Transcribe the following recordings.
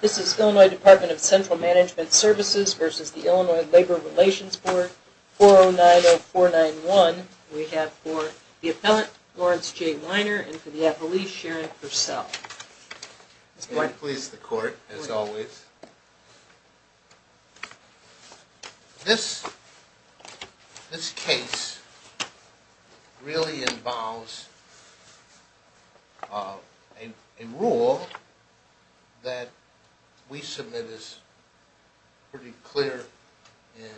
This is Illinois Department of Central Management Services v. The Illinois Labor Relations Board, 4090491. We have for the appellant, Lawrence J. Weiner, and for the appellee, Sharon Purcell. It's quite pleased the court, as always. This case really involves a rule that we submit as pretty clear and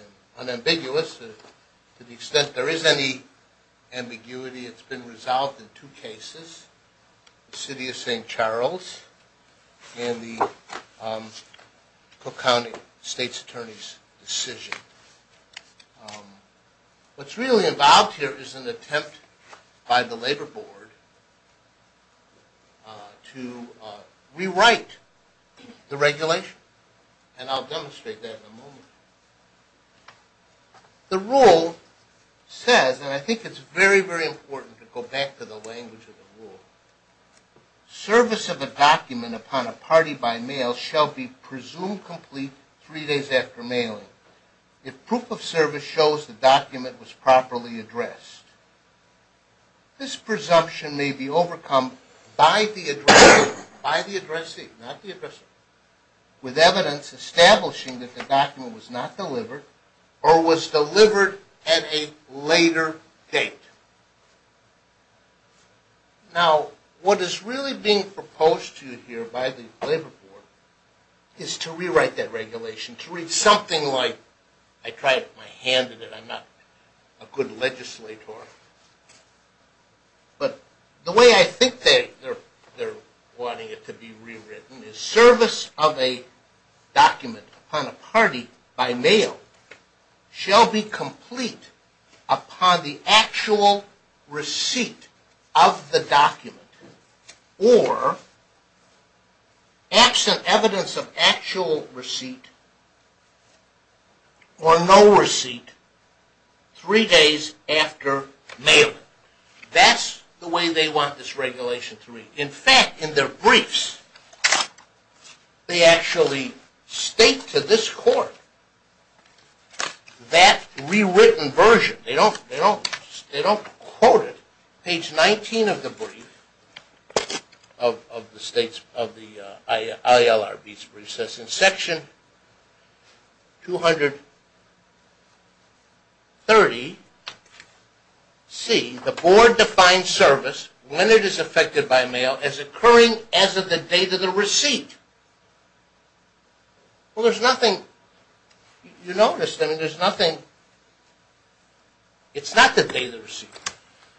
unambiguous to the extent there is any ambiguity. It's been resolved in two cases, the City of St. Charles and the Cook County State's Attorney's decision. What's really involved here is an attempt by the labor board to rewrite the regulation, and I'll demonstrate that in a moment. The rule says, and I think it's very, very important to go back to the language of the rule, service of a document upon a party by mail shall be presumed complete three days after mailing, if proof of service shows the document was properly addressed. This presumption may be overcome by the addressee, not the addressee, with evidence establishing that the document was not delivered or was delivered at a later date. Now, what is really being proposed to you here by the labor board is to rewrite that regulation, to read something like, I tried my hand at it, I'm not a good legislator, but the way I think they're wanting it to be rewritten is, service of a document upon a party by mail shall be complete upon the actual receipt of the document, or absent evidence of actual receipt or no receipt three days after mailing. That's the way they want this regulation to read. In fact, in their briefs, they actually state to this court that rewritten version. They don't quote it. Page 19 of the brief, of the states, of the ILRB's brief, says in section 230C, the board defines service when it is effected by mail as occurring as of the date of the receipt. Well, there's nothing, you notice, there's nothing, it's not the date of the receipt.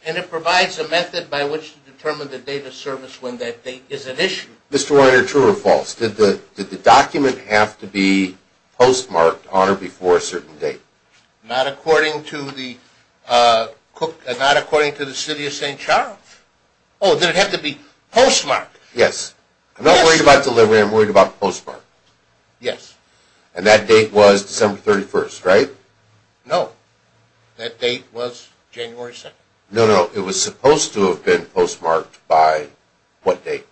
And it provides a method by which to determine the date of service when that date is an issue. Mr. Reiner, true or false, did the document have to be postmarked on or before a certain date? Not according to the, not according to the city of St. Charles. Oh, did it have to be postmarked? Yes. I'm not worried about delivery, I'm worried about postmark. Yes. And that date was December 31st, right? No. That date was January 2nd. No, no, it was supposed to have been postmarked by what date?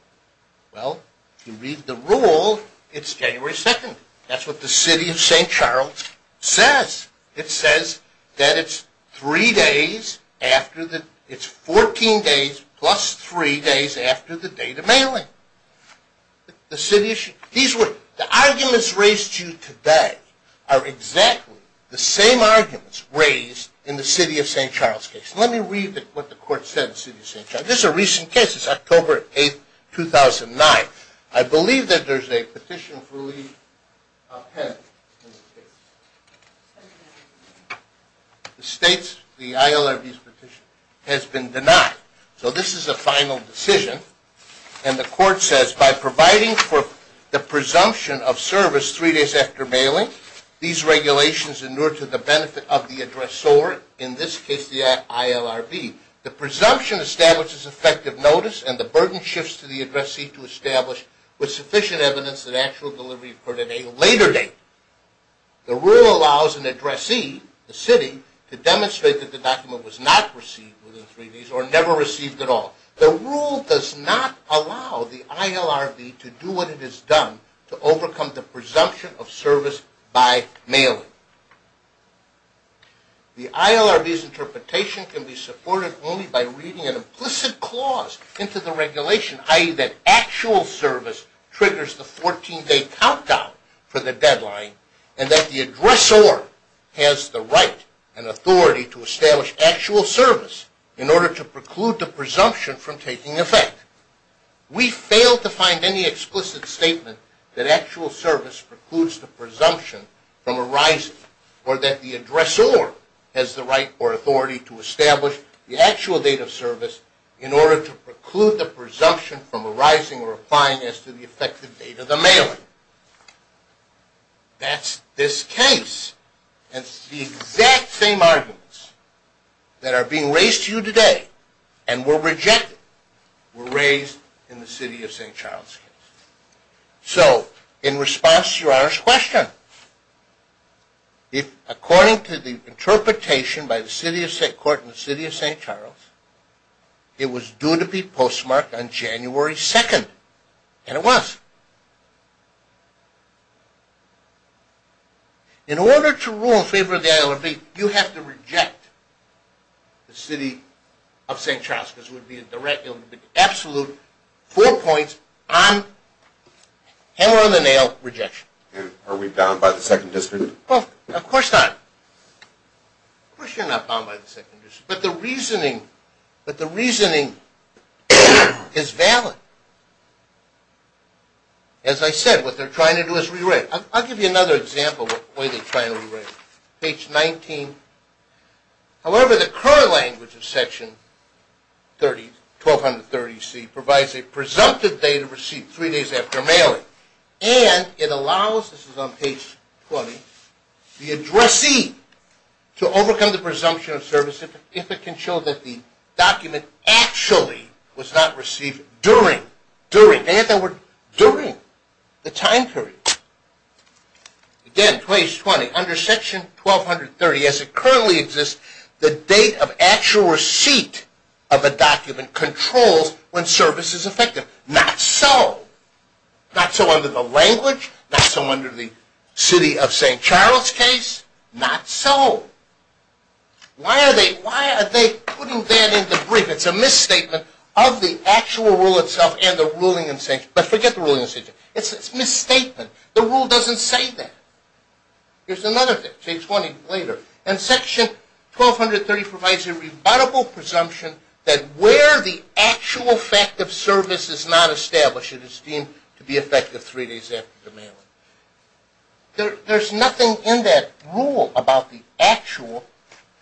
Well, if you read the rule, it's January 2nd. That's what the city of St. Charles says. It says that it's three days after the, it's 14 days plus three days after the date of mailing. The city issued, these were, the arguments raised to you today are exactly the same arguments raised in the city of St. Charles case. Let me read what the court said in the city of St. Charles. This is a recent case, it's October 8th, 2009. I believe that there's a petition for a leave of penitent in this case. It states the ILRB's petition has been denied. So this is a final decision, and the court says by providing for the presumption of service three days after mailing, these regulations in order to the benefit of the addressor, in this case the ILRB, the presumption establishes effective notice and the burden shifts to the addressee to establish with sufficient evidence that actual delivery occurred at a later date. The rule allows an addressee, the city, to demonstrate that the document was not received within three days or never received at all. The rule does not allow the ILRB to do what it has done to overcome the presumption of service by mailing. The ILRB's interpretation can be supported only by reading an implicit clause into the regulation, i.e. that actual service triggers the 14-day countdown for the deadline, and that the addressor has the right and authority to establish actual service in order to preclude the presumption from taking effect. We fail to find any explicit statement that actual service precludes the presumption from arising, or that the addressor has the right or authority to establish the actual date of service in order to preclude the presumption from arising or applying as to the effective date of the mailing. That's this case, and it's the exact same arguments that are being raised to you today, and were rejected. They were raised in the City of St. Charles case. So, in response to Your Honor's question, according to the interpretation by the court in the City of St. Charles, it was due to be postmarked on January 2nd, and it was. In order to rule in favor of the ILRB, you have to reject the City of St. Charles, because it would be an absolute four points on hammer-on-the-nail rejection. And are we bound by the Second District? Of course not. Of course you're not bound by the Second District. But the reasoning is valid. As I said, what they're trying to do is rewrite. I'll give you another example of the way they're trying to rewrite it. Page 19. However, the current language of Section 1230C provides a presumptive date of receipt three days after mailing, and it allows, this is on page 20, the addressee to overcome the presumption of service if it can show that the document actually was not received during the time period. Again, page 20. Under Section 1230, as it currently exists, the date of actual receipt of a document controls when service is effective. Not so. Not so under the language. Not so under the City of St. Charles case. Not so. Why are they putting that in the brief? It's a misstatement of the actual rule itself and the ruling in St. Charles. But forget the ruling in St. Charles. It's a misstatement. The rule doesn't say that. Here's another thing, page 20 later. And Section 1230 provides a rebuttable presumption that where the actual fact of service is not established is deemed to be effective three days after the mailing. There's nothing in that rule about the actual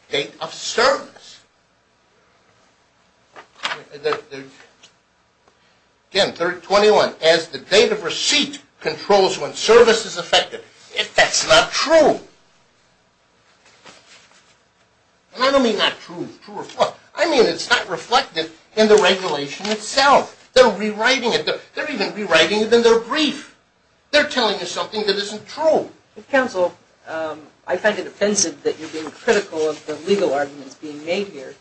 date of service. Again, page 21. As the date of receipt controls when service is effective. That's not true. And I don't mean not true. I mean it's not reflected in the regulation itself. They're rewriting it. They're even rewriting it in their brief. They're telling you something that isn't true. Counsel, I find it offensive that you're being critical of the legal arguments being made here.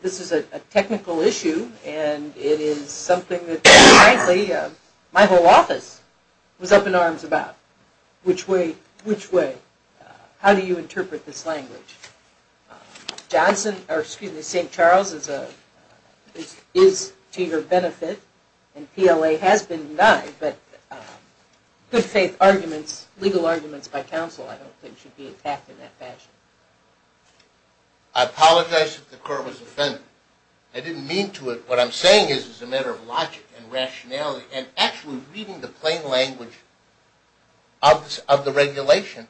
This is a technical issue. And it is something that, frankly, my whole office was up in arms about. Which way? Which way? How do you interpret this language? St. Charles is to your benefit. And PLA has been denied. But good faith arguments, legal arguments by counsel, I don't think should be attacked in that fashion. I apologize if the Court was offended. I didn't mean to. What I'm saying is it's a matter of logic and rationality. And actually reading the plain language of the regulation,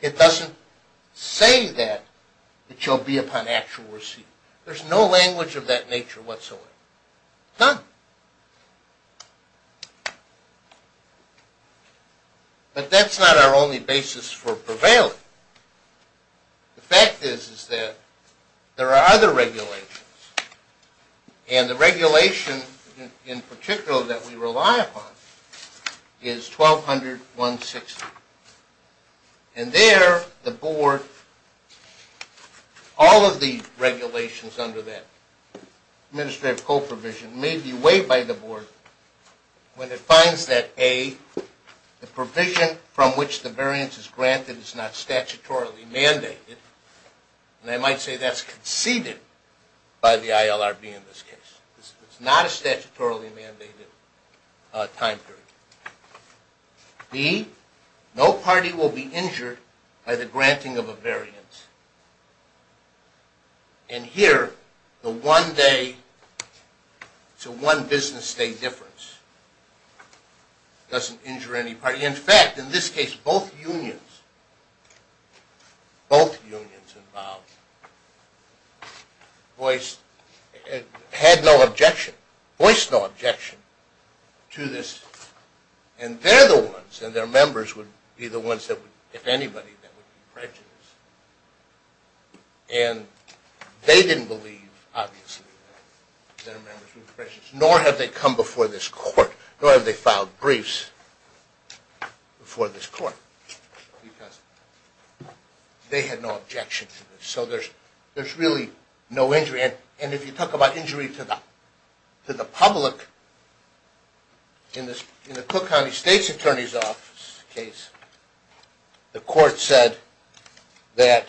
it doesn't say that it shall be upon actual receipt. There's no language of that nature whatsoever. None. But that's not our only basis for prevailing. The fact is that there are other regulations. And the regulation in particular that we rely upon is 1200.160. And there, the Board, all of the regulations under that administrative co-provision may be weighed by the Board. When it finds that, A, the provision from which the variance is granted is not statutorily mandated. And I might say that's conceded by the ILRB in this case. It's not a statutorily mandated time period. B, no party will be injured by the granting of a variance. And here, the one-day to one-business-day difference doesn't injure any party. In fact, in this case, both unions involved voiced no objection to this. And they're the ones, and their members would be the ones that would, if anybody, that would be prejudiced. And they didn't believe, obviously, that their members would be prejudiced. Nor have they come before this court. Nor have they filed briefs before this court because they had no objection to this. So there's really no injury. And if you talk about injury to the public, in the Cook County State's Attorney's Office case, the court said that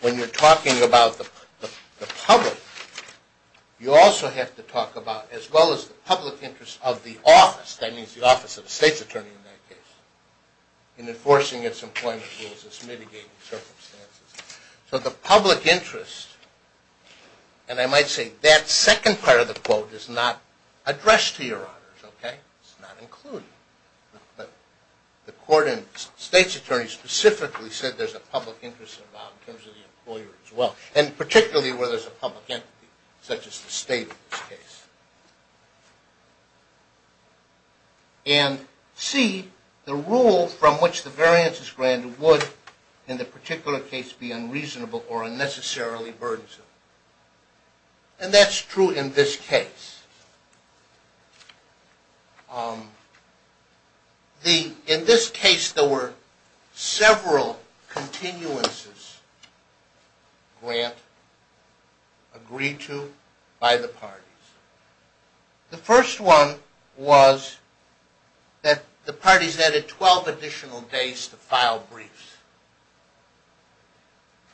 when you're talking about the public, you also have to talk about, as well as the public interest of the office, that means the office of the State's Attorney in that case, in enforcing its employment rules, its mitigating circumstances. So the public interest, and I might say that second part of the quote is not addressed to your honors, okay? It's not included. But the court in the State's Attorney specifically said there's a public interest involved in terms of the employer as well, and particularly where there's a public entity, such as the State in this case. And C, the rule from which the variance is granted would, in the particular case, be unreasonable or unnecessarily burdensome. And that's true in this case. In this case, there were several continuances grant, agreed to by the parties. The first one was that the parties added 12 additional days to file briefs.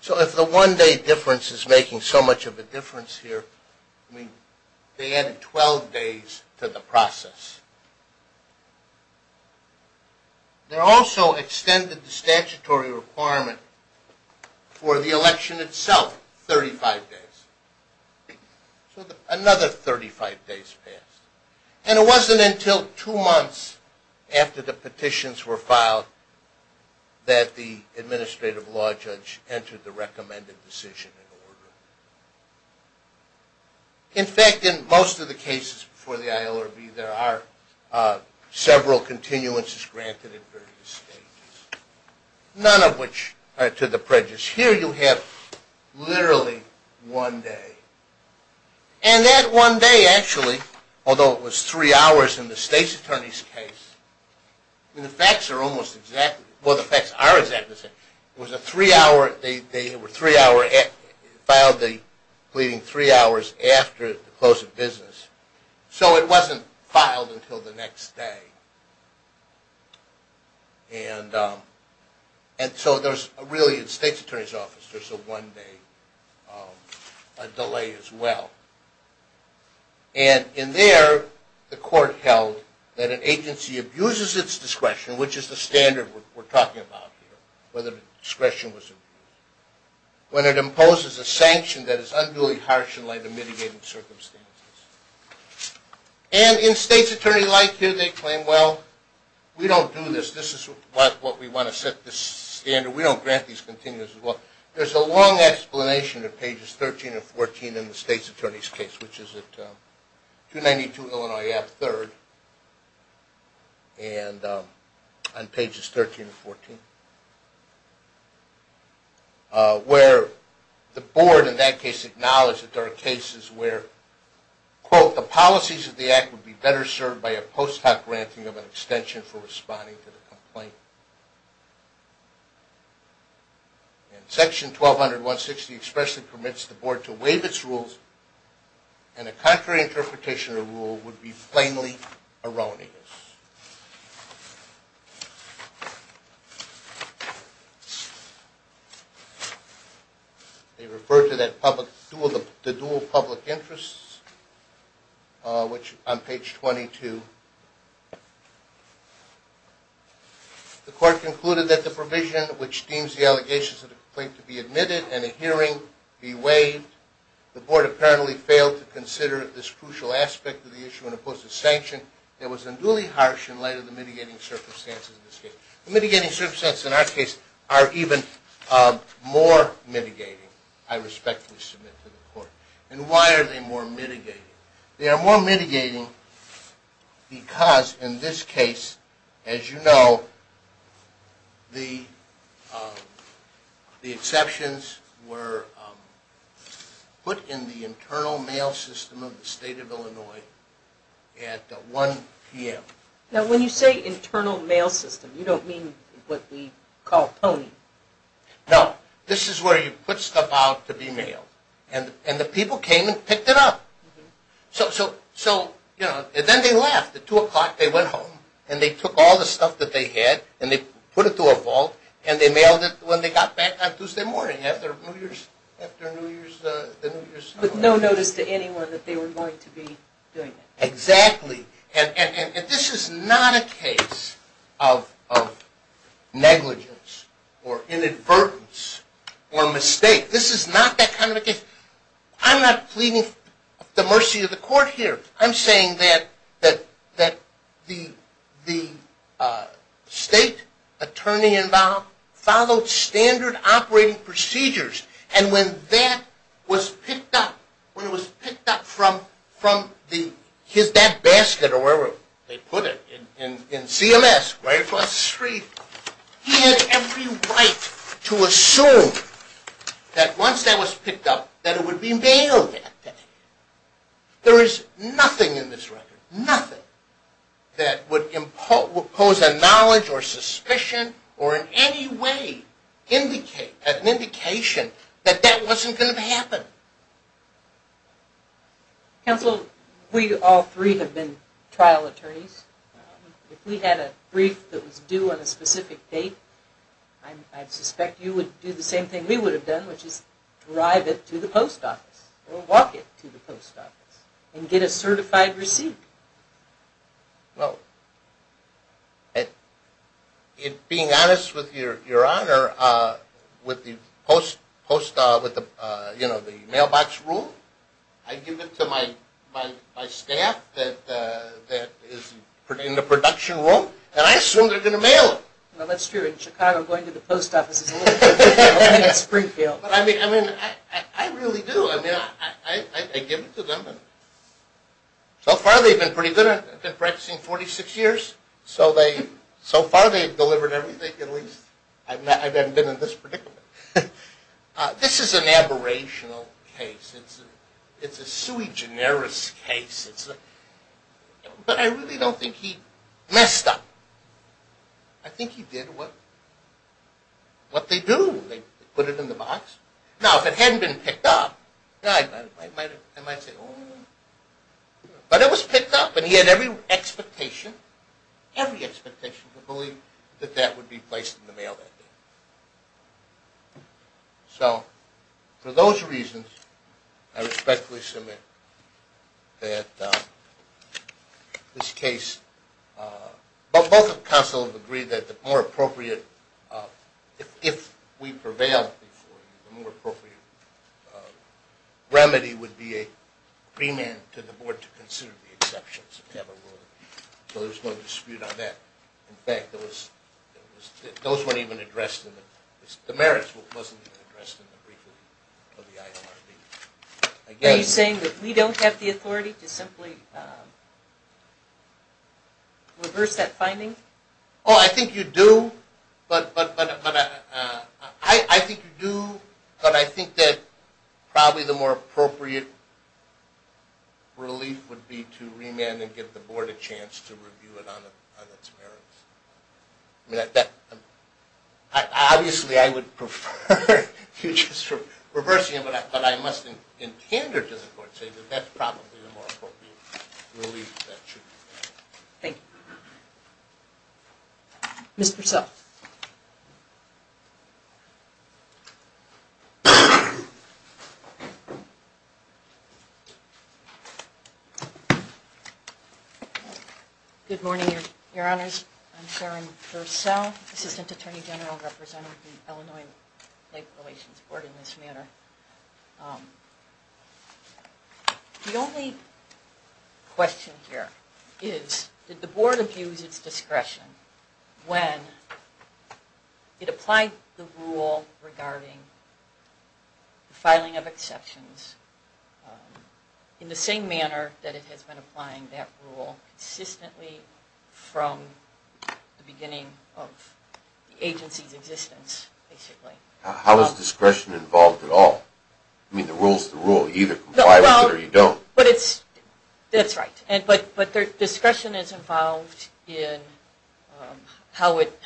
So if the one day difference is making so much of a difference here, they added 12 days to the process. They also extended the statutory requirement for the election itself, 35 days. So another 35 days passed. And it wasn't until two months after the petitions were filed that the administrative law judge entered the recommended decision in order. In fact, in most of the cases before the ILRB, there are several continuances granted in various stages, none of which are to the prejudice. Here you have literally one day. And that one day actually, although it was three hours in the State's Attorney's case, the facts are almost exactly the same. It was a three-hour, they filed the pleading three hours after the close of business. So it wasn't filed until the next day. And so there's really, in the State's Attorney's Office, there's a one-day delay as well. And in there, the court held that an agency abuses its discretion, which is the standard we're talking about here, whether the discretion was abused, when it imposes a sanction that is unduly harsh in light of mitigating circumstances. And in State's Attorney-like here, they claim, well, we don't do this. This is what we want to set the standard. We don't grant these continuances. Well, there's a long explanation in Pages 13 and 14 in the State's Attorney's case, which is at 292 Illinois Ave. 3rd on Pages 13 and 14, where the board in that case acknowledged that there are cases where, quote, the policies of the act would be better served by a post-hoc granting of an extension for responding to the complaint. And Section 1200.160 expressly permits the board to waive its rules, and a contrary interpretation of the rule would be plainly erroneous. They refer to the dual public interests, which on Page 22. The court concluded that the provision which deems the allegations of the complaint to be admitted and a hearing be waived. The board apparently failed to consider this crucial aspect of the issue and imposed a sanction that was unduly harsh in light of the mitigating circumstances of this case. Mitigating circumstances in our case are even more mitigating, I respectfully submit to the court. And why are they more mitigating? They are more mitigating because in this case, as you know, the exceptions were put in the internal mail system of the state of Illinois at 1 p.m. Now, when you say internal mail system, you don't mean what we call pwning. No. This is where you put stuff out to be mailed. And the people came and picked it up. So, you know, then they left. At 2 o'clock they went home and they took all the stuff that they had and they put it to a vault and they mailed it when they got back on Tuesday morning after New Year's Eve. With no notice to anyone that they were going to be doing it. Exactly. And this is not a case of negligence or inadvertence or mistake. This is not that kind of a case. I'm not pleading the mercy of the court here. I'm saying that the state attorney involved followed standard operating procedures. And when that was picked up, when it was picked up from that basket or wherever they put it in CMS, right across the street, he had every right to assume that once that was picked up, that it would be mailed that day. There is nothing in this record, nothing, that would impose a knowledge or suspicion or in any way indicate, an indication, that that wasn't going to happen. Counsel, we all three have been trial attorneys. If we had a brief that was due on a specific date, I'd suspect you would do the same thing we would have done, which is drive it to the post office or walk it to the post office and get a certified receipt. Well, being honest with your honor, with the mailbox rule, I give it to my staff that is in the production room and I assume they're going to mail it. Well, that's true. In Chicago, going to the post office is a little different than going to Springfield. I mean, I really do. I give it to them. So far they've been pretty good. I've been practicing 46 years. So far they've delivered everything, at least. I haven't been in this particular case. This is an aberrational case. It's a sui generis case. But I really don't think he messed up. I think he did what they do. They put it in the box. Now, if it hadn't been picked up, I might say, oh. But it was picked up and he had every expectation, every expectation, to believe that that would be placed in the mail that day. So, for those reasons, I respectfully submit that this case, both counsels agreed that the more appropriate, if we prevail, the more appropriate remedy would be a remand to the board to consider the exceptions. So there's no dispute on that. In fact, those weren't even addressed. The merits wasn't even addressed in the briefing of the ILRB. Are you saying that we don't have the authority to simply reverse that finding? Oh, I think you do. But I think that probably the more appropriate relief would be to remand and give the board a chance to review it on its merits. Obviously, I would prefer you just reversing it. But I must, in tandem to the court, say that that's probably the more appropriate relief that should be there. Thank you. Mr. Self. Good morning, Your Honors. I'm Sharon Fursell, Assistant Attorney General, representing the Illinois Lake Relations Board in this manner. The only question here is, did the board abuse its discretion when it applied the rule regarding the filing of exceptions in the same manner that it has been applying that rule consistently from the beginning of the agency's existence, basically? How is discretion involved at all? I mean, the rule's the rule. You either comply with it or you don't. That's right. But discretion is involved in how it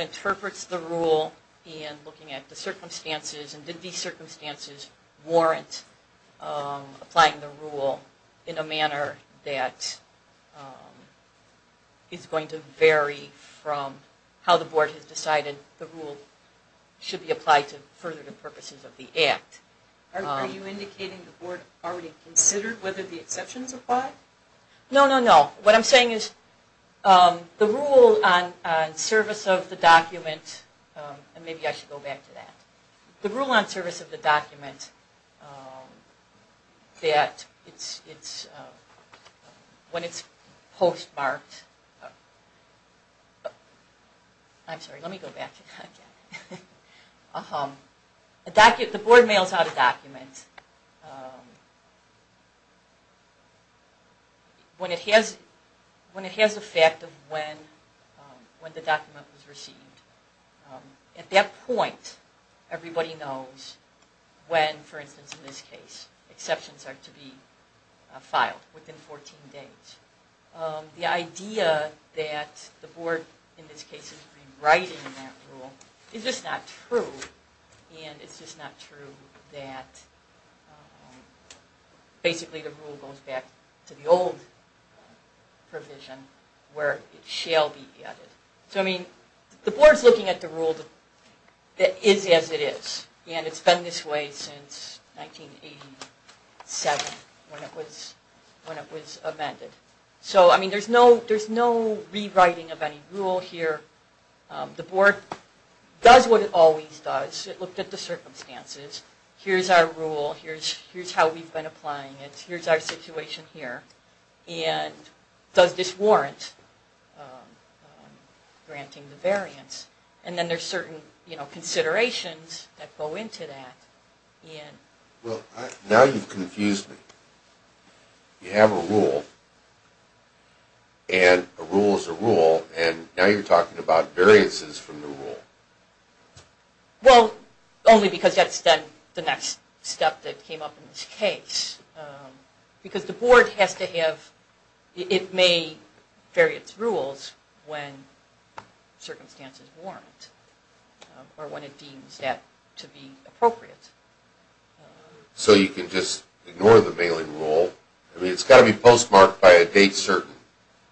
interprets the rule and looking at the circumstances and did these circumstances warrant applying the rule in a manner that is going to vary from how the board has decided the rule should be applied to further the purposes of the act. Are you indicating the board already considered whether the exceptions apply? No, no, no. What I'm saying is the rule on service of the document, and maybe I should go back to that. The rule on service of the document, when it's postmarked, I'm sorry, let me go back to that. The board mails out a document when it has the fact of when the document was received. At that point, everybody knows when, for instance in this case, exceptions are to be filed within 14 days. The idea that the board in this case is rewriting that rule is just not true. And it's just not true that basically the rule goes back to the old provision where it shall be added. The board's looking at the rule that is as it is, and it's been this way since 1987 when it was amended. So there's no rewriting of any rule here. The board does what it always does. It looked at the circumstances. Here's our rule. Here's how we've been applying it. Here's our situation here. And does this warrant granting the variance? And then there's certain considerations that go into that. Well, now you've confused me. You have a rule, and a rule is a rule, and now you're talking about variances from the rule. Well, only because that's the next step that came up in this case. Because the board has to have, it may vary its rules when circumstances warrant, or when it deems that to be appropriate. So you can just ignore the mailing rule. I mean, it's got to be postmarked by a date certain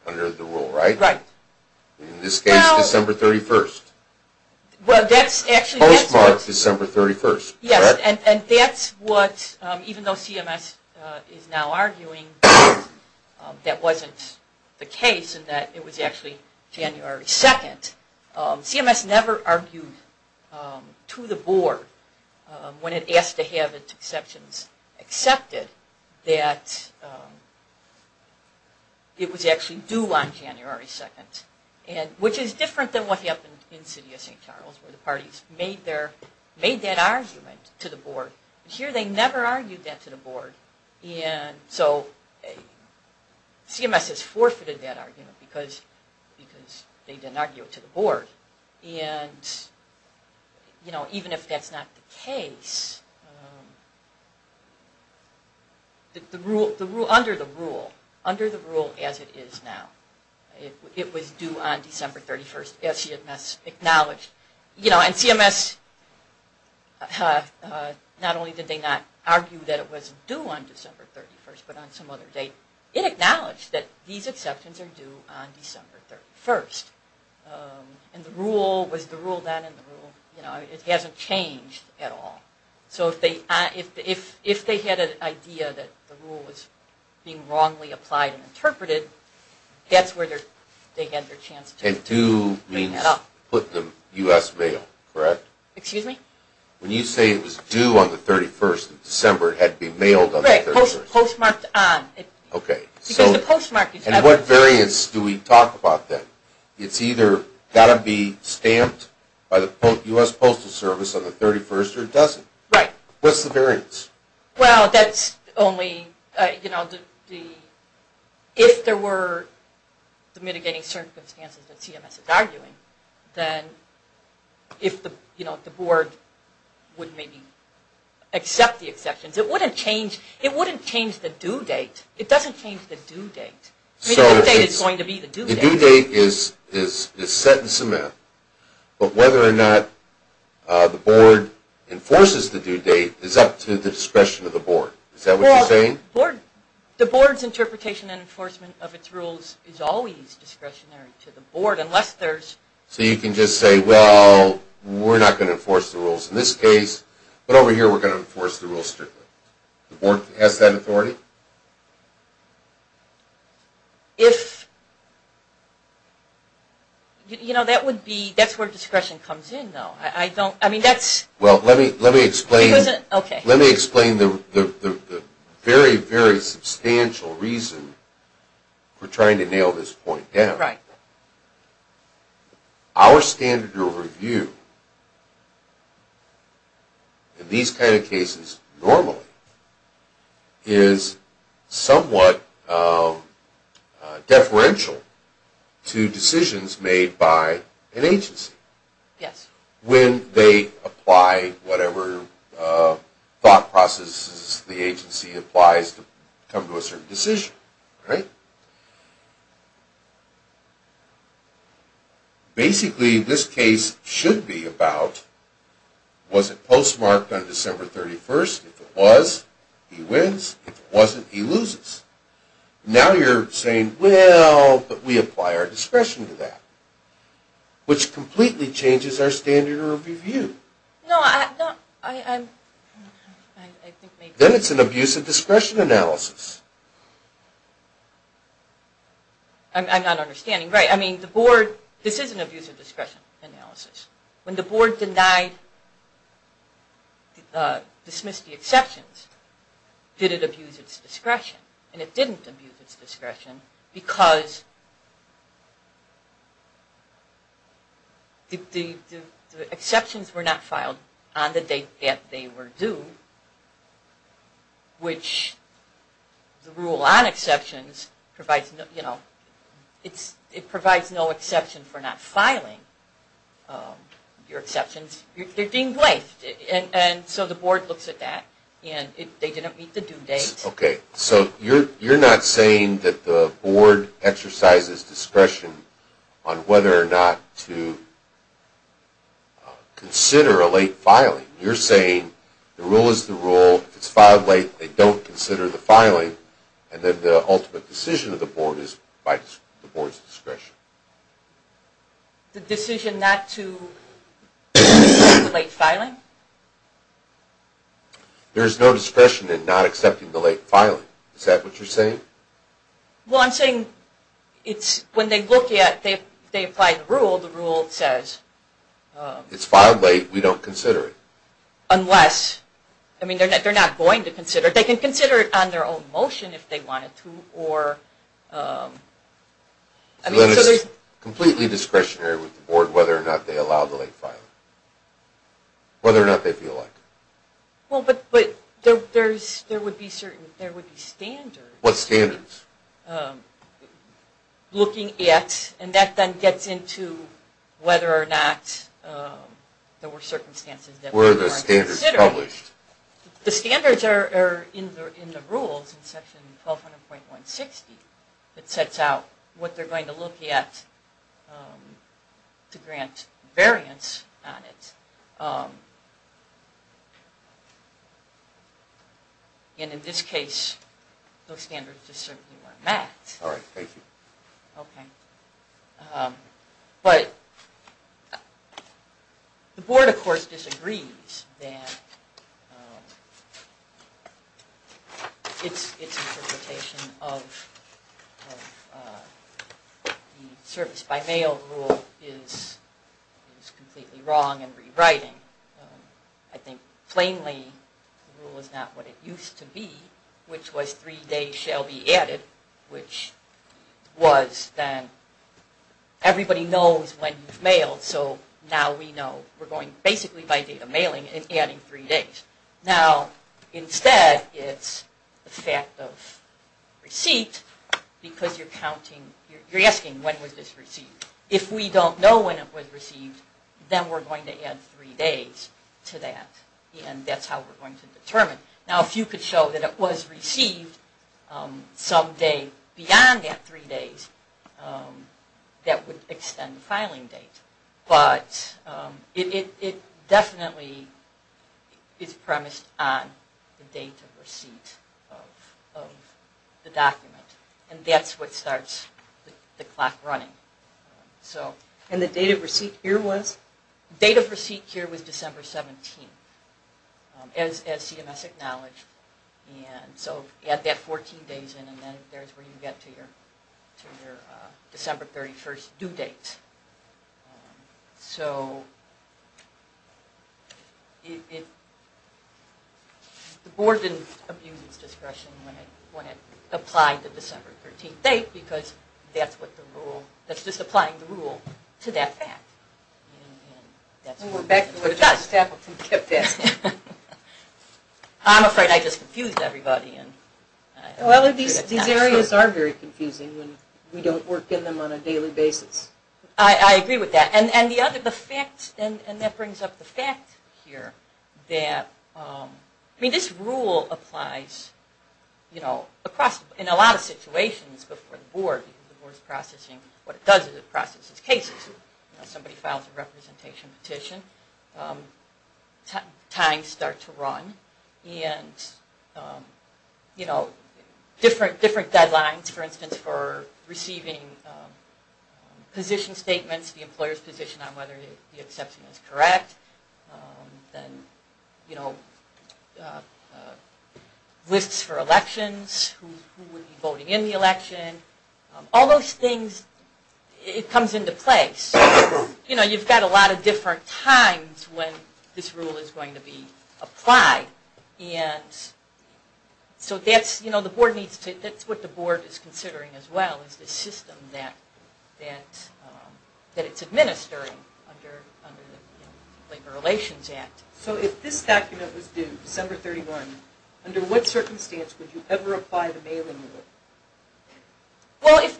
under the rule, right? Right. In this case, December 31st. Postmarked December 31st. Yes, and that's what, even though CMS is now arguing that wasn't the case, and that it was actually January 2nd, CMS never argued to the board when it asked to have its exceptions accepted that it was actually due on January 2nd. Which is different than what happened in the city of St. Charles, where the parties made that argument to the board. Here they never argued that to the board, and so CMS has forfeited that argument because they didn't argue it to the board. And, you know, even if that's not the case, under the rule as it is now, it was due on December 31st as CMS acknowledged. You know, and CMS, not only did they not argue that it was due on December 31st, but on some other date. It acknowledged that these exceptions are due on December 31st. And the rule was the rule then, and the rule, you know, it hasn't changed at all. So if they had an idea that the rule was being wrongly applied and interpreted, that's where they had their chance to bring it up. And due means put in the U.S. mail, correct? Excuse me? When you say it was due on the 31st of December, it had to be mailed on the 31st. Right, postmarked on. Okay. Because the postmark is... And what variance do we talk about then? It's either got to be stamped by the U.S. Postal Service on the 31st, or it doesn't. Right. What's the variance? Well, that's only, you know, if there were mitigating circumstances that CMS is arguing, then if the, you know, the board would maybe accept the exceptions. It wouldn't change the due date. It doesn't change the due date. The due date is going to be the due date. Is that what you're saying? Well, the board's interpretation and enforcement of its rules is always discretionary to the board, unless there's... So you can just say, well, we're not going to enforce the rules in this case, but over here we're going to enforce the rules strictly. The board has that authority? If... You know, that would be, that's where discretion comes in, though. I don't, I mean, that's... Well, let me explain. Okay. Let me explain the very, very substantial reason for trying to nail this point down. Right. Our standard of review in these kind of cases normally is somewhat deferential to decisions made by an agency. Yes. When they apply whatever thought processes the agency applies to come to a certain decision. Right. Basically, this case should be about, was it postmarked on December 31st? If it was, he wins. If it wasn't, he loses. Now you're saying, well, but we apply our discretion to that. Which completely changes our standard of review. No, I... Then it's an abuse of discretion analysis. I'm not understanding. Right. I mean, the board... This is an abuse of discretion analysis. When the board denied, dismissed the exceptions, did it abuse its discretion? And it didn't abuse its discretion because the exceptions were not filed on the date that they were due, which the rule on exceptions provides, you know, it provides no exception for not filing your exceptions. They're deemed late. And so the board looks at that and they didn't meet the due date. Okay. So you're not saying that the board exercises discretion on whether or not to consider a late filing. You're saying the rule is the rule, it's filed late, they don't consider the filing, and then the ultimate decision of the board is by the board's discretion. The decision not to accept the late filing? There's no discretion in not accepting the late filing. Is that what you're saying? Well, I'm saying it's when they look at, they apply the rule, the rule says... It's filed late, we don't consider it. Unless, I mean, they're not going to consider it. They can consider it on their own motion if they wanted to or... I mean, so there's... Completely discretionary with the board whether or not they allow the late filing. Whether or not they feel like it. Well, but there would be certain, there would be standards. What standards? Looking at, and that then gets into whether or not there were circumstances that... Were the standards published? The standards are in the rules in section 1200.160. It sets out what they're going to look at to grant variance on it. And in this case, those standards just certainly weren't met. All right, thank you. Okay. But the board, of course, disagrees that... It's interpretation of the service by mail rule is completely wrong and rewriting. I think, plainly, the rule is not what it used to be, which was three days shall be added, which was then... Everybody knows when you've mailed, so now we know. We're going, basically, by date of mailing, it's adding three days. Now, instead, it's the fact of receipt because you're counting... You're asking, when was this received? If we don't know when it was received, then we're going to add three days to that, and that's how we're going to determine. Now, if you could show that it was received some day beyond that three days, that would extend the filing date. But it definitely is premised on the date of receipt of the document, and that's what starts the clock running. And the date of receipt here was? The date of receipt here was December 17th, as CMS acknowledged. And so add that 14 days in, and then there's where you get to your December 31st due date. So the board didn't abuse its discretion when it applied the December 13th date because that's just applying the rule to that fact. And we're back to where the staff kept asking. I'm afraid I just confused everybody. Well, these areas are very confusing when we don't work in them on a daily basis. I agree with that. And that brings up the fact here that this rule applies in a lot of situations before the board because what it does is it processes cases. Somebody files a representation petition, times start to run, and different deadlines, for instance, for receiving position statements, the employer's position on whether the exception is correct, then lists for elections, who would be voting in the election. All those things, it comes into place. You've got a lot of different times when this rule is going to be applied. So that's what the board is considering as well, is the system that it's administering under the Labor Relations Act. So if this document was due December 31, under what circumstance would you ever apply the mailing rule? Well, if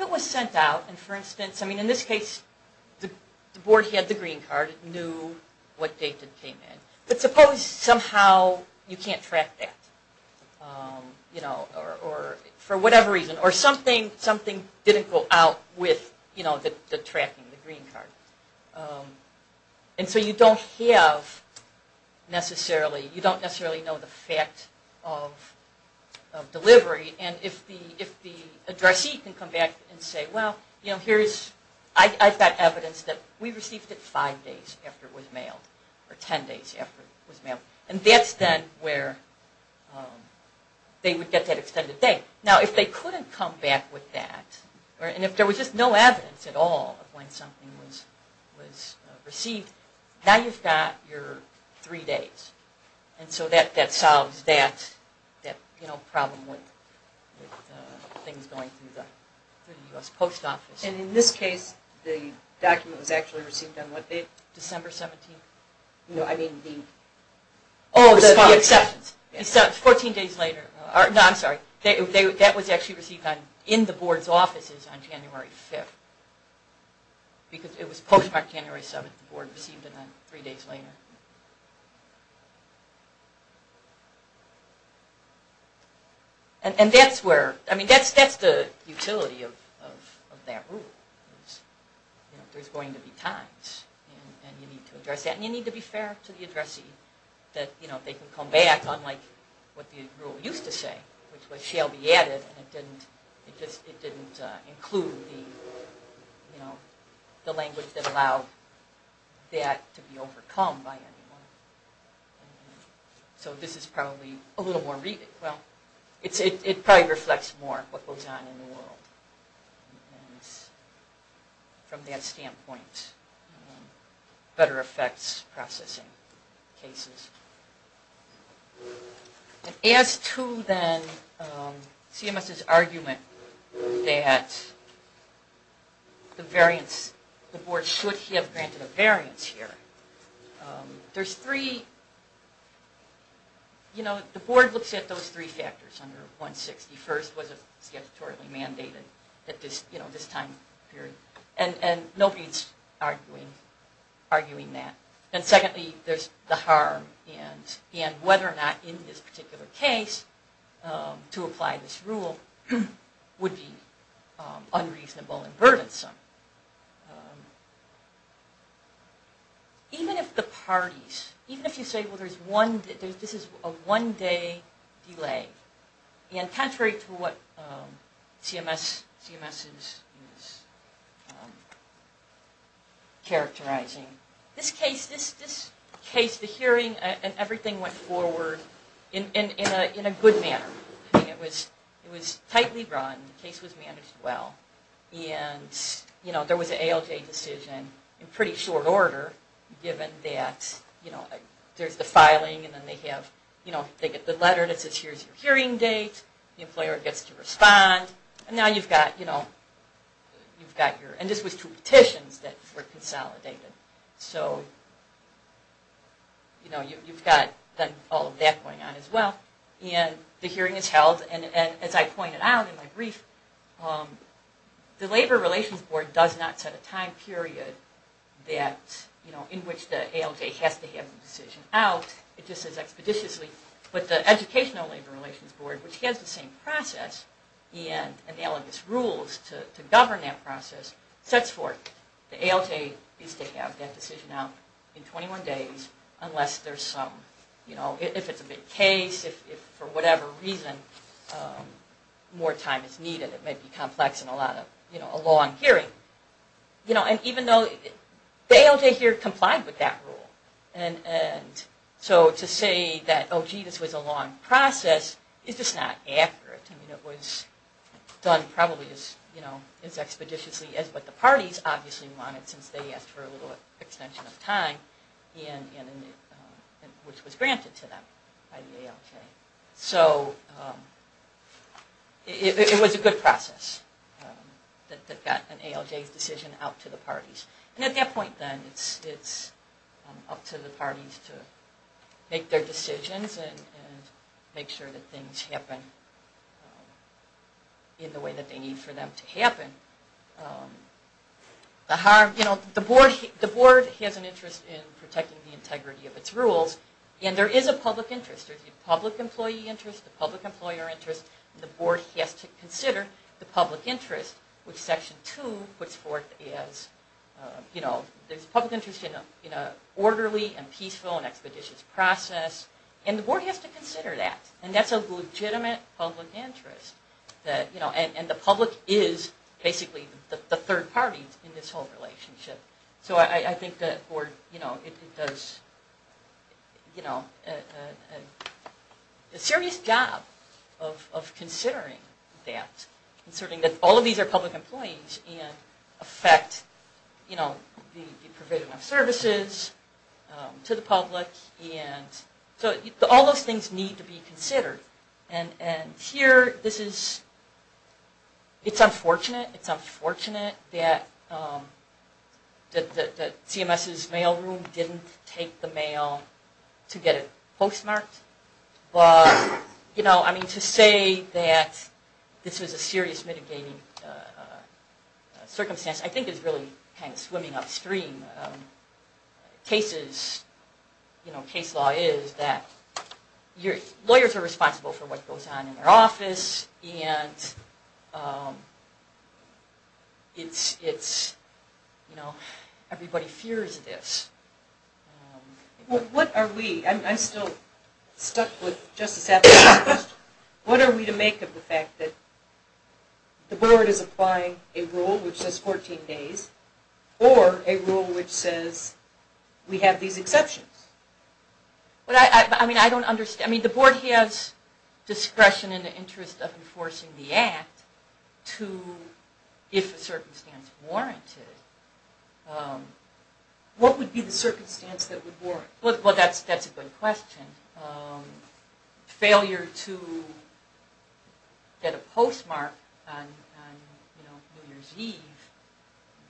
it was sent out, and for instance, in this case, the board had the green card, knew what date it came in. But suppose somehow you can't track that, or for whatever reason, or something didn't go out with the tracking, the green card. And so you don't necessarily know the fact of delivery. And if the addressee can come back and say, well, I've got evidence that we received it five days after it was mailed, or ten days after it was mailed. And that's then where they would get that extended date. Now, if they couldn't come back with that, and if there was just no evidence at all of when something was received, now you've got your three days. And so that solves that problem with things going through the U.S. Post Office. And in this case, the document was actually received on what date? December 17th. No, I mean the... Oh, the exceptions. The exceptions. Fourteen days later. No, I'm sorry. That was actually received in the Board's offices on January 5th. Because it was postmarked January 7th. The Board received it three days later. And that's where... I mean, that's the utility of that rule. There's going to be times. And you need to address that. And you need to be fair to the addressee. That they can come back, unlike what the rule used to say, which was, shall be added, and it didn't include the language that allowed that to be overcome by anyone. So this is probably a little more... Well, it probably reflects more what goes on in the world. And from that standpoint, better effects processing cases. As to then CMS's argument that the Board should have granted a variance here, there's three... You know, the Board looks at those three factors. First, was it statutorily mandated at this time period? And nobody's arguing that. And secondly, there's the harm. And whether or not, in this particular case, to apply this rule would be unreasonable and burdensome. Even if the parties... This is a one-day delay. And contrary to what CMS is characterizing, this case, the hearing and everything went forward in a good manner. It was tightly run. The case was managed well. And there was an ALJ decision in pretty short order, given that there's the filing, and then they get the letter that says here's your hearing date. The employer gets to respond. And now you've got your... And this was two petitions that were consolidated. So you've got all of that going on as well. And the hearing is held. And as I pointed out in my brief, the Labor Relations Board does not set a time period in which the ALJ has to have the decision out. It just says expeditiously. But the Educational Labor Relations Board, which has the same process and analogous rules to govern that process, sets forth the ALJ needs to have that decision out in 21 days unless there's some... If it's a big case, if for whatever reason more time is needed. It may be complex and a long hearing. And even though... The ALJ here complied with that rule. And so to say that, oh gee, this was a long process, is just not accurate. It was done probably as expeditiously as what the parties obviously wanted since they asked for a little extension of time, which was granted to them by the ALJ. So it was a good process that got an ALJ's decision out to the parties. And at that point then, it's up to the parties to make their decisions and make sure that things happen in the way that they need for them to happen. The board has an interest in protecting the integrity of its rules. And there is a public interest. There's a public employee interest, a public employer interest. The board has to consider the public interest, which Section 2 puts forth as... There's a public interest in an orderly and peaceful and expeditious process. And the board has to consider that. And that's a legitimate public interest. And the public is basically the third party in this whole relationship. So I think that the board does a serious job of considering that, considering that all of these are public employees and affect the provision of services to the public. So all those things need to be considered. Here, it's unfortunate that CMS's mailroom didn't take the mail to get it postmarked. But to say that this was a serious mitigating circumstance I think is really kind of swimming upstream. Case law is that lawyers are responsible for what goes on in their office. And everybody fears this. What are we? I'm still stuck with Justice Atkinson's question. What are we to make of the fact that the board is applying a rule which says 14 days or a rule which says we have these exceptions? I don't understand. The board has discretion in the interest of enforcing the Act if a circumstance warranted. What would be the circumstance that would warrant it? Well, that's a good question. Failure to get a postmark on New Year's Eve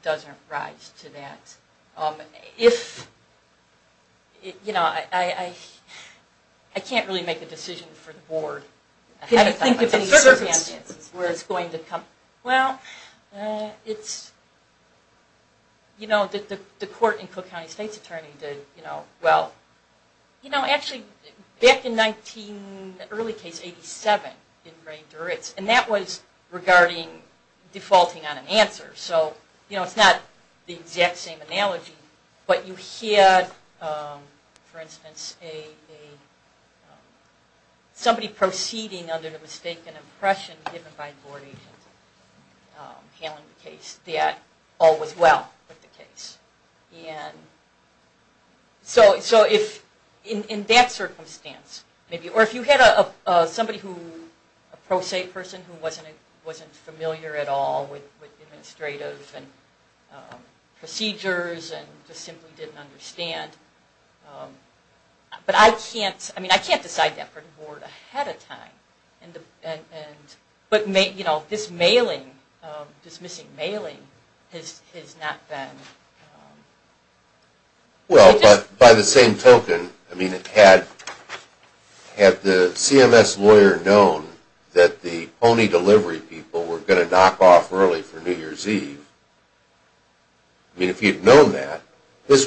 doesn't rise to that. I can't really make a decision for the board. Can you think of any circumstances where it's going to come? Well, it's... The court in Cook County State's Attorney did... Actually, back in the early case 87 in Ray Duritz, and that was regarding defaulting on an answer. It's not the exact same analogy. But you had, for instance, somebody proceeding under the mistaken impression given by a board agent handling the case that all was well with the case. So in that circumstance, or if you had a pro se person who wasn't familiar at all with administrative and procedures and just simply didn't understand. But I can't decide that for the board ahead of time. But this mailing, dismissing mailing, has not been... Well, by the same token, had the CMS lawyer known that the pony delivery people were going to knock off early for New Year's Eve, I mean, if he'd known that, we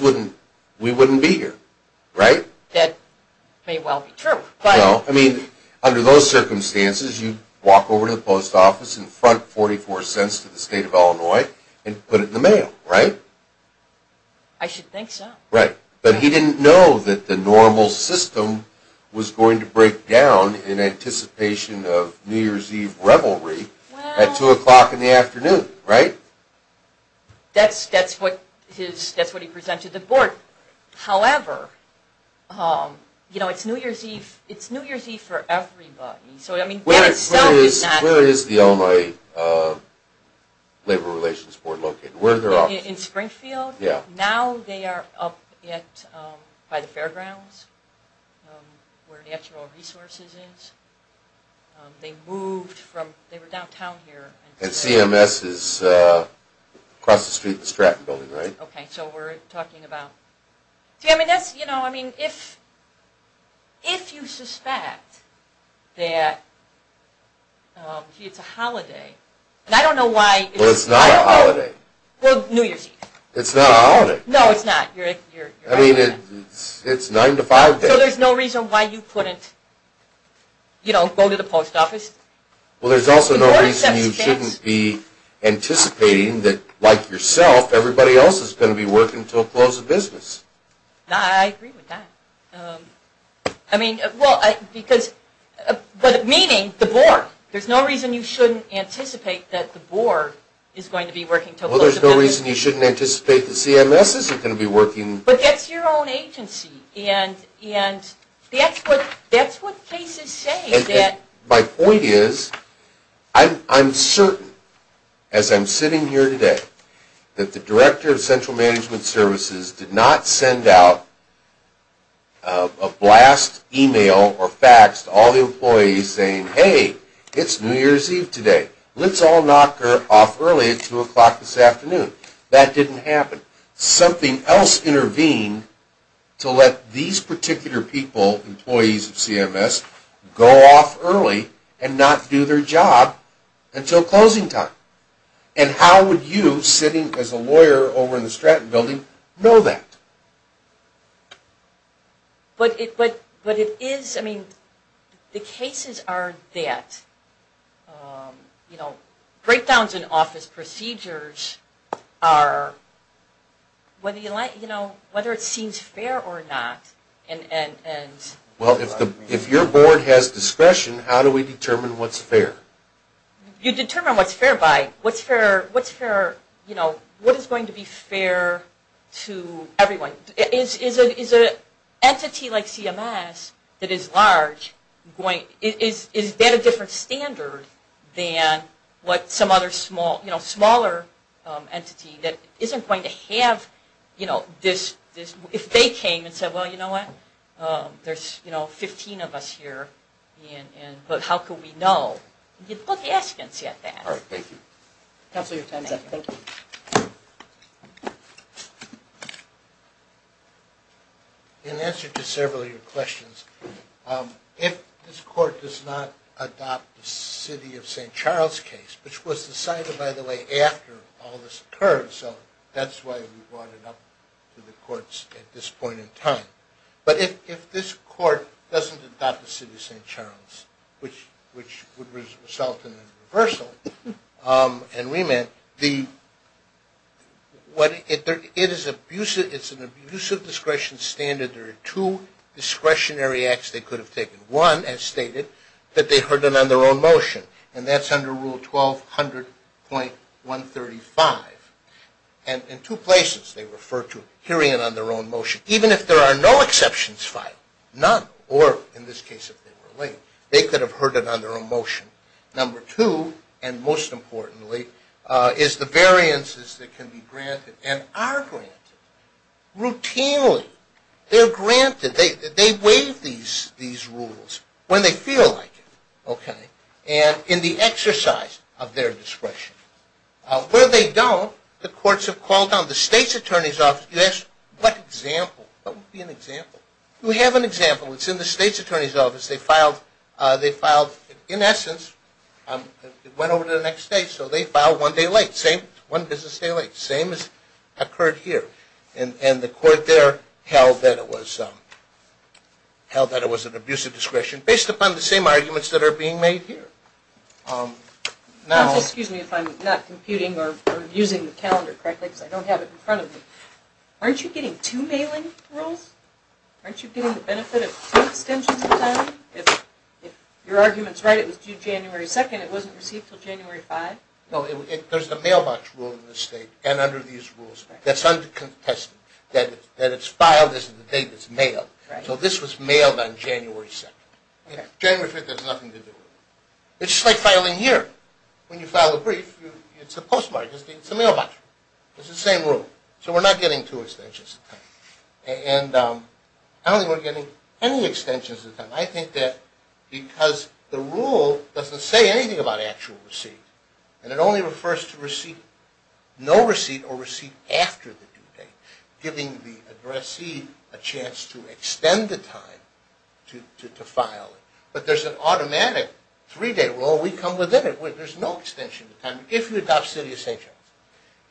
wouldn't be here, right? That may well be true, but... I mean, under those circumstances, you'd walk over to the post office and front 44 cents to the state of Illinois and put it in the mail, right? I should think so. Right. But he didn't know that the normal system was going to break down in anticipation of New Year's Eve revelry at 2 o'clock in the afternoon, right? That's what he presented to the board. However, you know, it's New Year's Eve for everybody. Where is the Illinois Labor Relations Board located? In Springfield? Yeah. Now they are up by the fairgrounds where Natural Resources is. They moved from... they were downtown here. And CMS is across the street from the Stratton Building, right? Okay, so we're talking about... See, I mean, that's, you know, I mean, if you suspect that it's a holiday, and I don't know why... Well, it's not a holiday. Well, New Year's Eve. It's not a holiday. No, it's not. I mean, it's 9 to 5 days. So there's no reason why you couldn't, you know, go to the post office. Well, there's also no reason you shouldn't be anticipating that, like yourself, everybody else is going to be working until close of business. I agree with that. I mean, well, because... but meaning the board. There's no reason you shouldn't anticipate that the board is going to be working... Well, there's no reason you shouldn't anticipate that CMS isn't going to be working... But that's your own agency, and that's what cases say. My point is, I'm certain, as I'm sitting here today, that the Director of Central Management Services did not send out a blast email or fax to all the employees saying, hey, it's New Year's Eve today. Let's all knock her off early at 2 o'clock this afternoon. That didn't happen. Something else intervened to let these particular people, employees of CMS, go off early and not do their job until closing time. And how would you, sitting as a lawyer over in the Stratton building, know that? But it is... I mean, the cases are that, you know, sit-downs in office procedures are... whether it seems fair or not. Well, if your board has discretion, how do we determine what's fair? You determine what's fair by... what's fair... what is going to be fair to everyone? Is an entity like CMS that is large... is that a different standard than what some other small... smaller entity that isn't going to have this... if they came and said, well, you know what, there's 15 of us here, but how could we know? You'd look askance at that. Thank you. Counselor, your time is up. In answer to several of your questions, if this court does not adopt the City of St. Charles case, which was decided, by the way, after all this occurred, so that's why we brought it up to the courts at this point in time. But if this court doesn't adopt the City of St. Charles, which would result in a reversal and remand, it is an abusive discretion standard. There are two discretionary acts they could have taken. One, as stated, that they heard it on their own motion, and that's under Rule 1200.135. And in two places they refer to hearing it on their own motion. Even if there are no exceptions filed, none, or in this case if they were late, they could have heard it on their own motion. Number two, and most importantly, is the variances that can be granted and are granted routinely. They're granted. They waive these rules when they feel like it, and in the exercise of their discretion. Where they don't, the courts have called on the state's attorney's office. You ask, what example? What would be an example? We have an example. It's in the state's attorney's office. They filed, in essence, it went over to the next state, so they filed one day late. One business day late. Same has occurred here. And the court there held that it was an abuse of discretion based upon the same arguments that are being made here. Now... Counsel, excuse me if I'm not computing or using the calendar correctly because I don't have it in front of me. Aren't you getting two mailing rules? Aren't you getting the benefit of two extensions of time? If your argument's right, it was due January 2nd, it wasn't received until January 5th? No, there's the mailbox rule in this state and under these rules. That's uncontested. That it's filed as of the date it's mailed. So this was mailed on January 2nd. January 5th has nothing to do with it. It's just like filing here. When you file a brief, it's a postmark. It's a mailbox rule. It's the same rule. So we're not getting two extensions of time. And I don't think we're getting any extensions of time. I think that because the rule doesn't say anything about actual receipt, and it only refers to receipt, no receipt or receipt after the due date, giving the addressee a chance to extend the time to file. But there's an automatic three-day rule. We come within it. There's no extension of time if you adopt City of St. John's.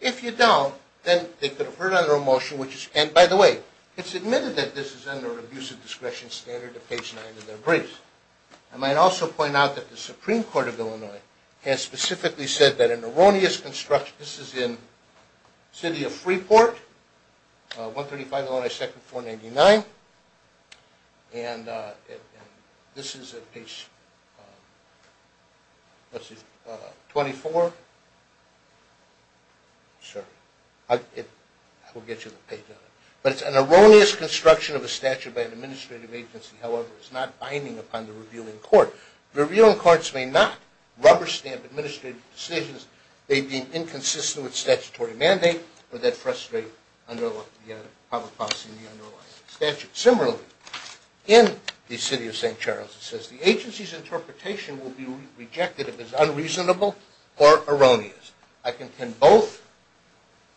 If you don't, then they could have heard under a motion which is, and by the way, it's admitted that this is under abusive discretion standard of page 9 of their briefs. I might also point out that the Supreme Court of Illinois has specifically said that an erroneous construction, this is in City of Freeport, 135 Illinois 2nd, 499, and this is at page 24. Sorry. I will get you the page on it. But it's an erroneous construction of a statute by an administrative agency. However, it's not binding upon the revealing court. Revealing courts may not rubber stamp administrative decisions. They'd be inconsistent with statutory mandate, or they'd frustrate public policy in the underlying statute. Similarly, in the City of St. Charles, it says, the agency's interpretation will be rejected if it's unreasonable or erroneous. I contend both.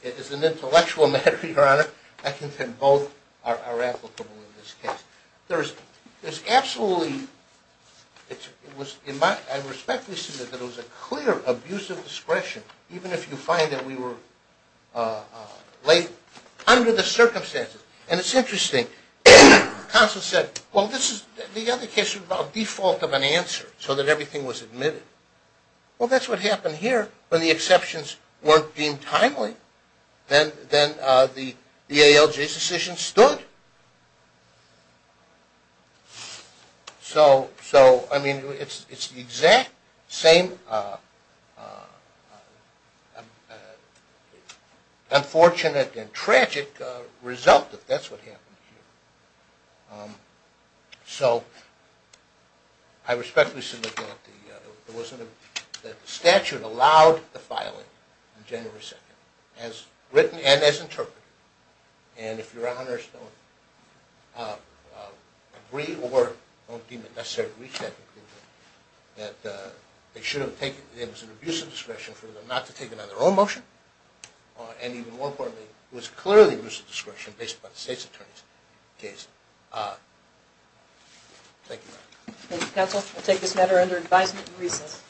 It is an intellectual matter, Your Honor. I contend both are applicable in this case. There's absolutely, it was in my, I respectfully submit that it was a clear abusive discretion, even if you find that we were late under the circumstances. And it's interesting. Counsel said, well, this is, the other case was about default of an answer so that everything was admitted. Well, that's what happened here when the exceptions weren't deemed timely. Then the ALJ's decision stood. So, I mean, it's the exact same unfortunate and tragic result that that's what happened here. So, I respectfully submit that the statute allowed the filing on January 2nd, as written and as interpreted. And if Your Honors don't agree or don't deem it necessary to reach that conclusion, that they should have taken, it was an abusive discretion for them not to take it on their own motion, and even more importantly, it was clearly an abusive discretion based upon the State's Attorney's case. Thank you, Your Honor. Counsel, we'll take this matter under advisement and recess.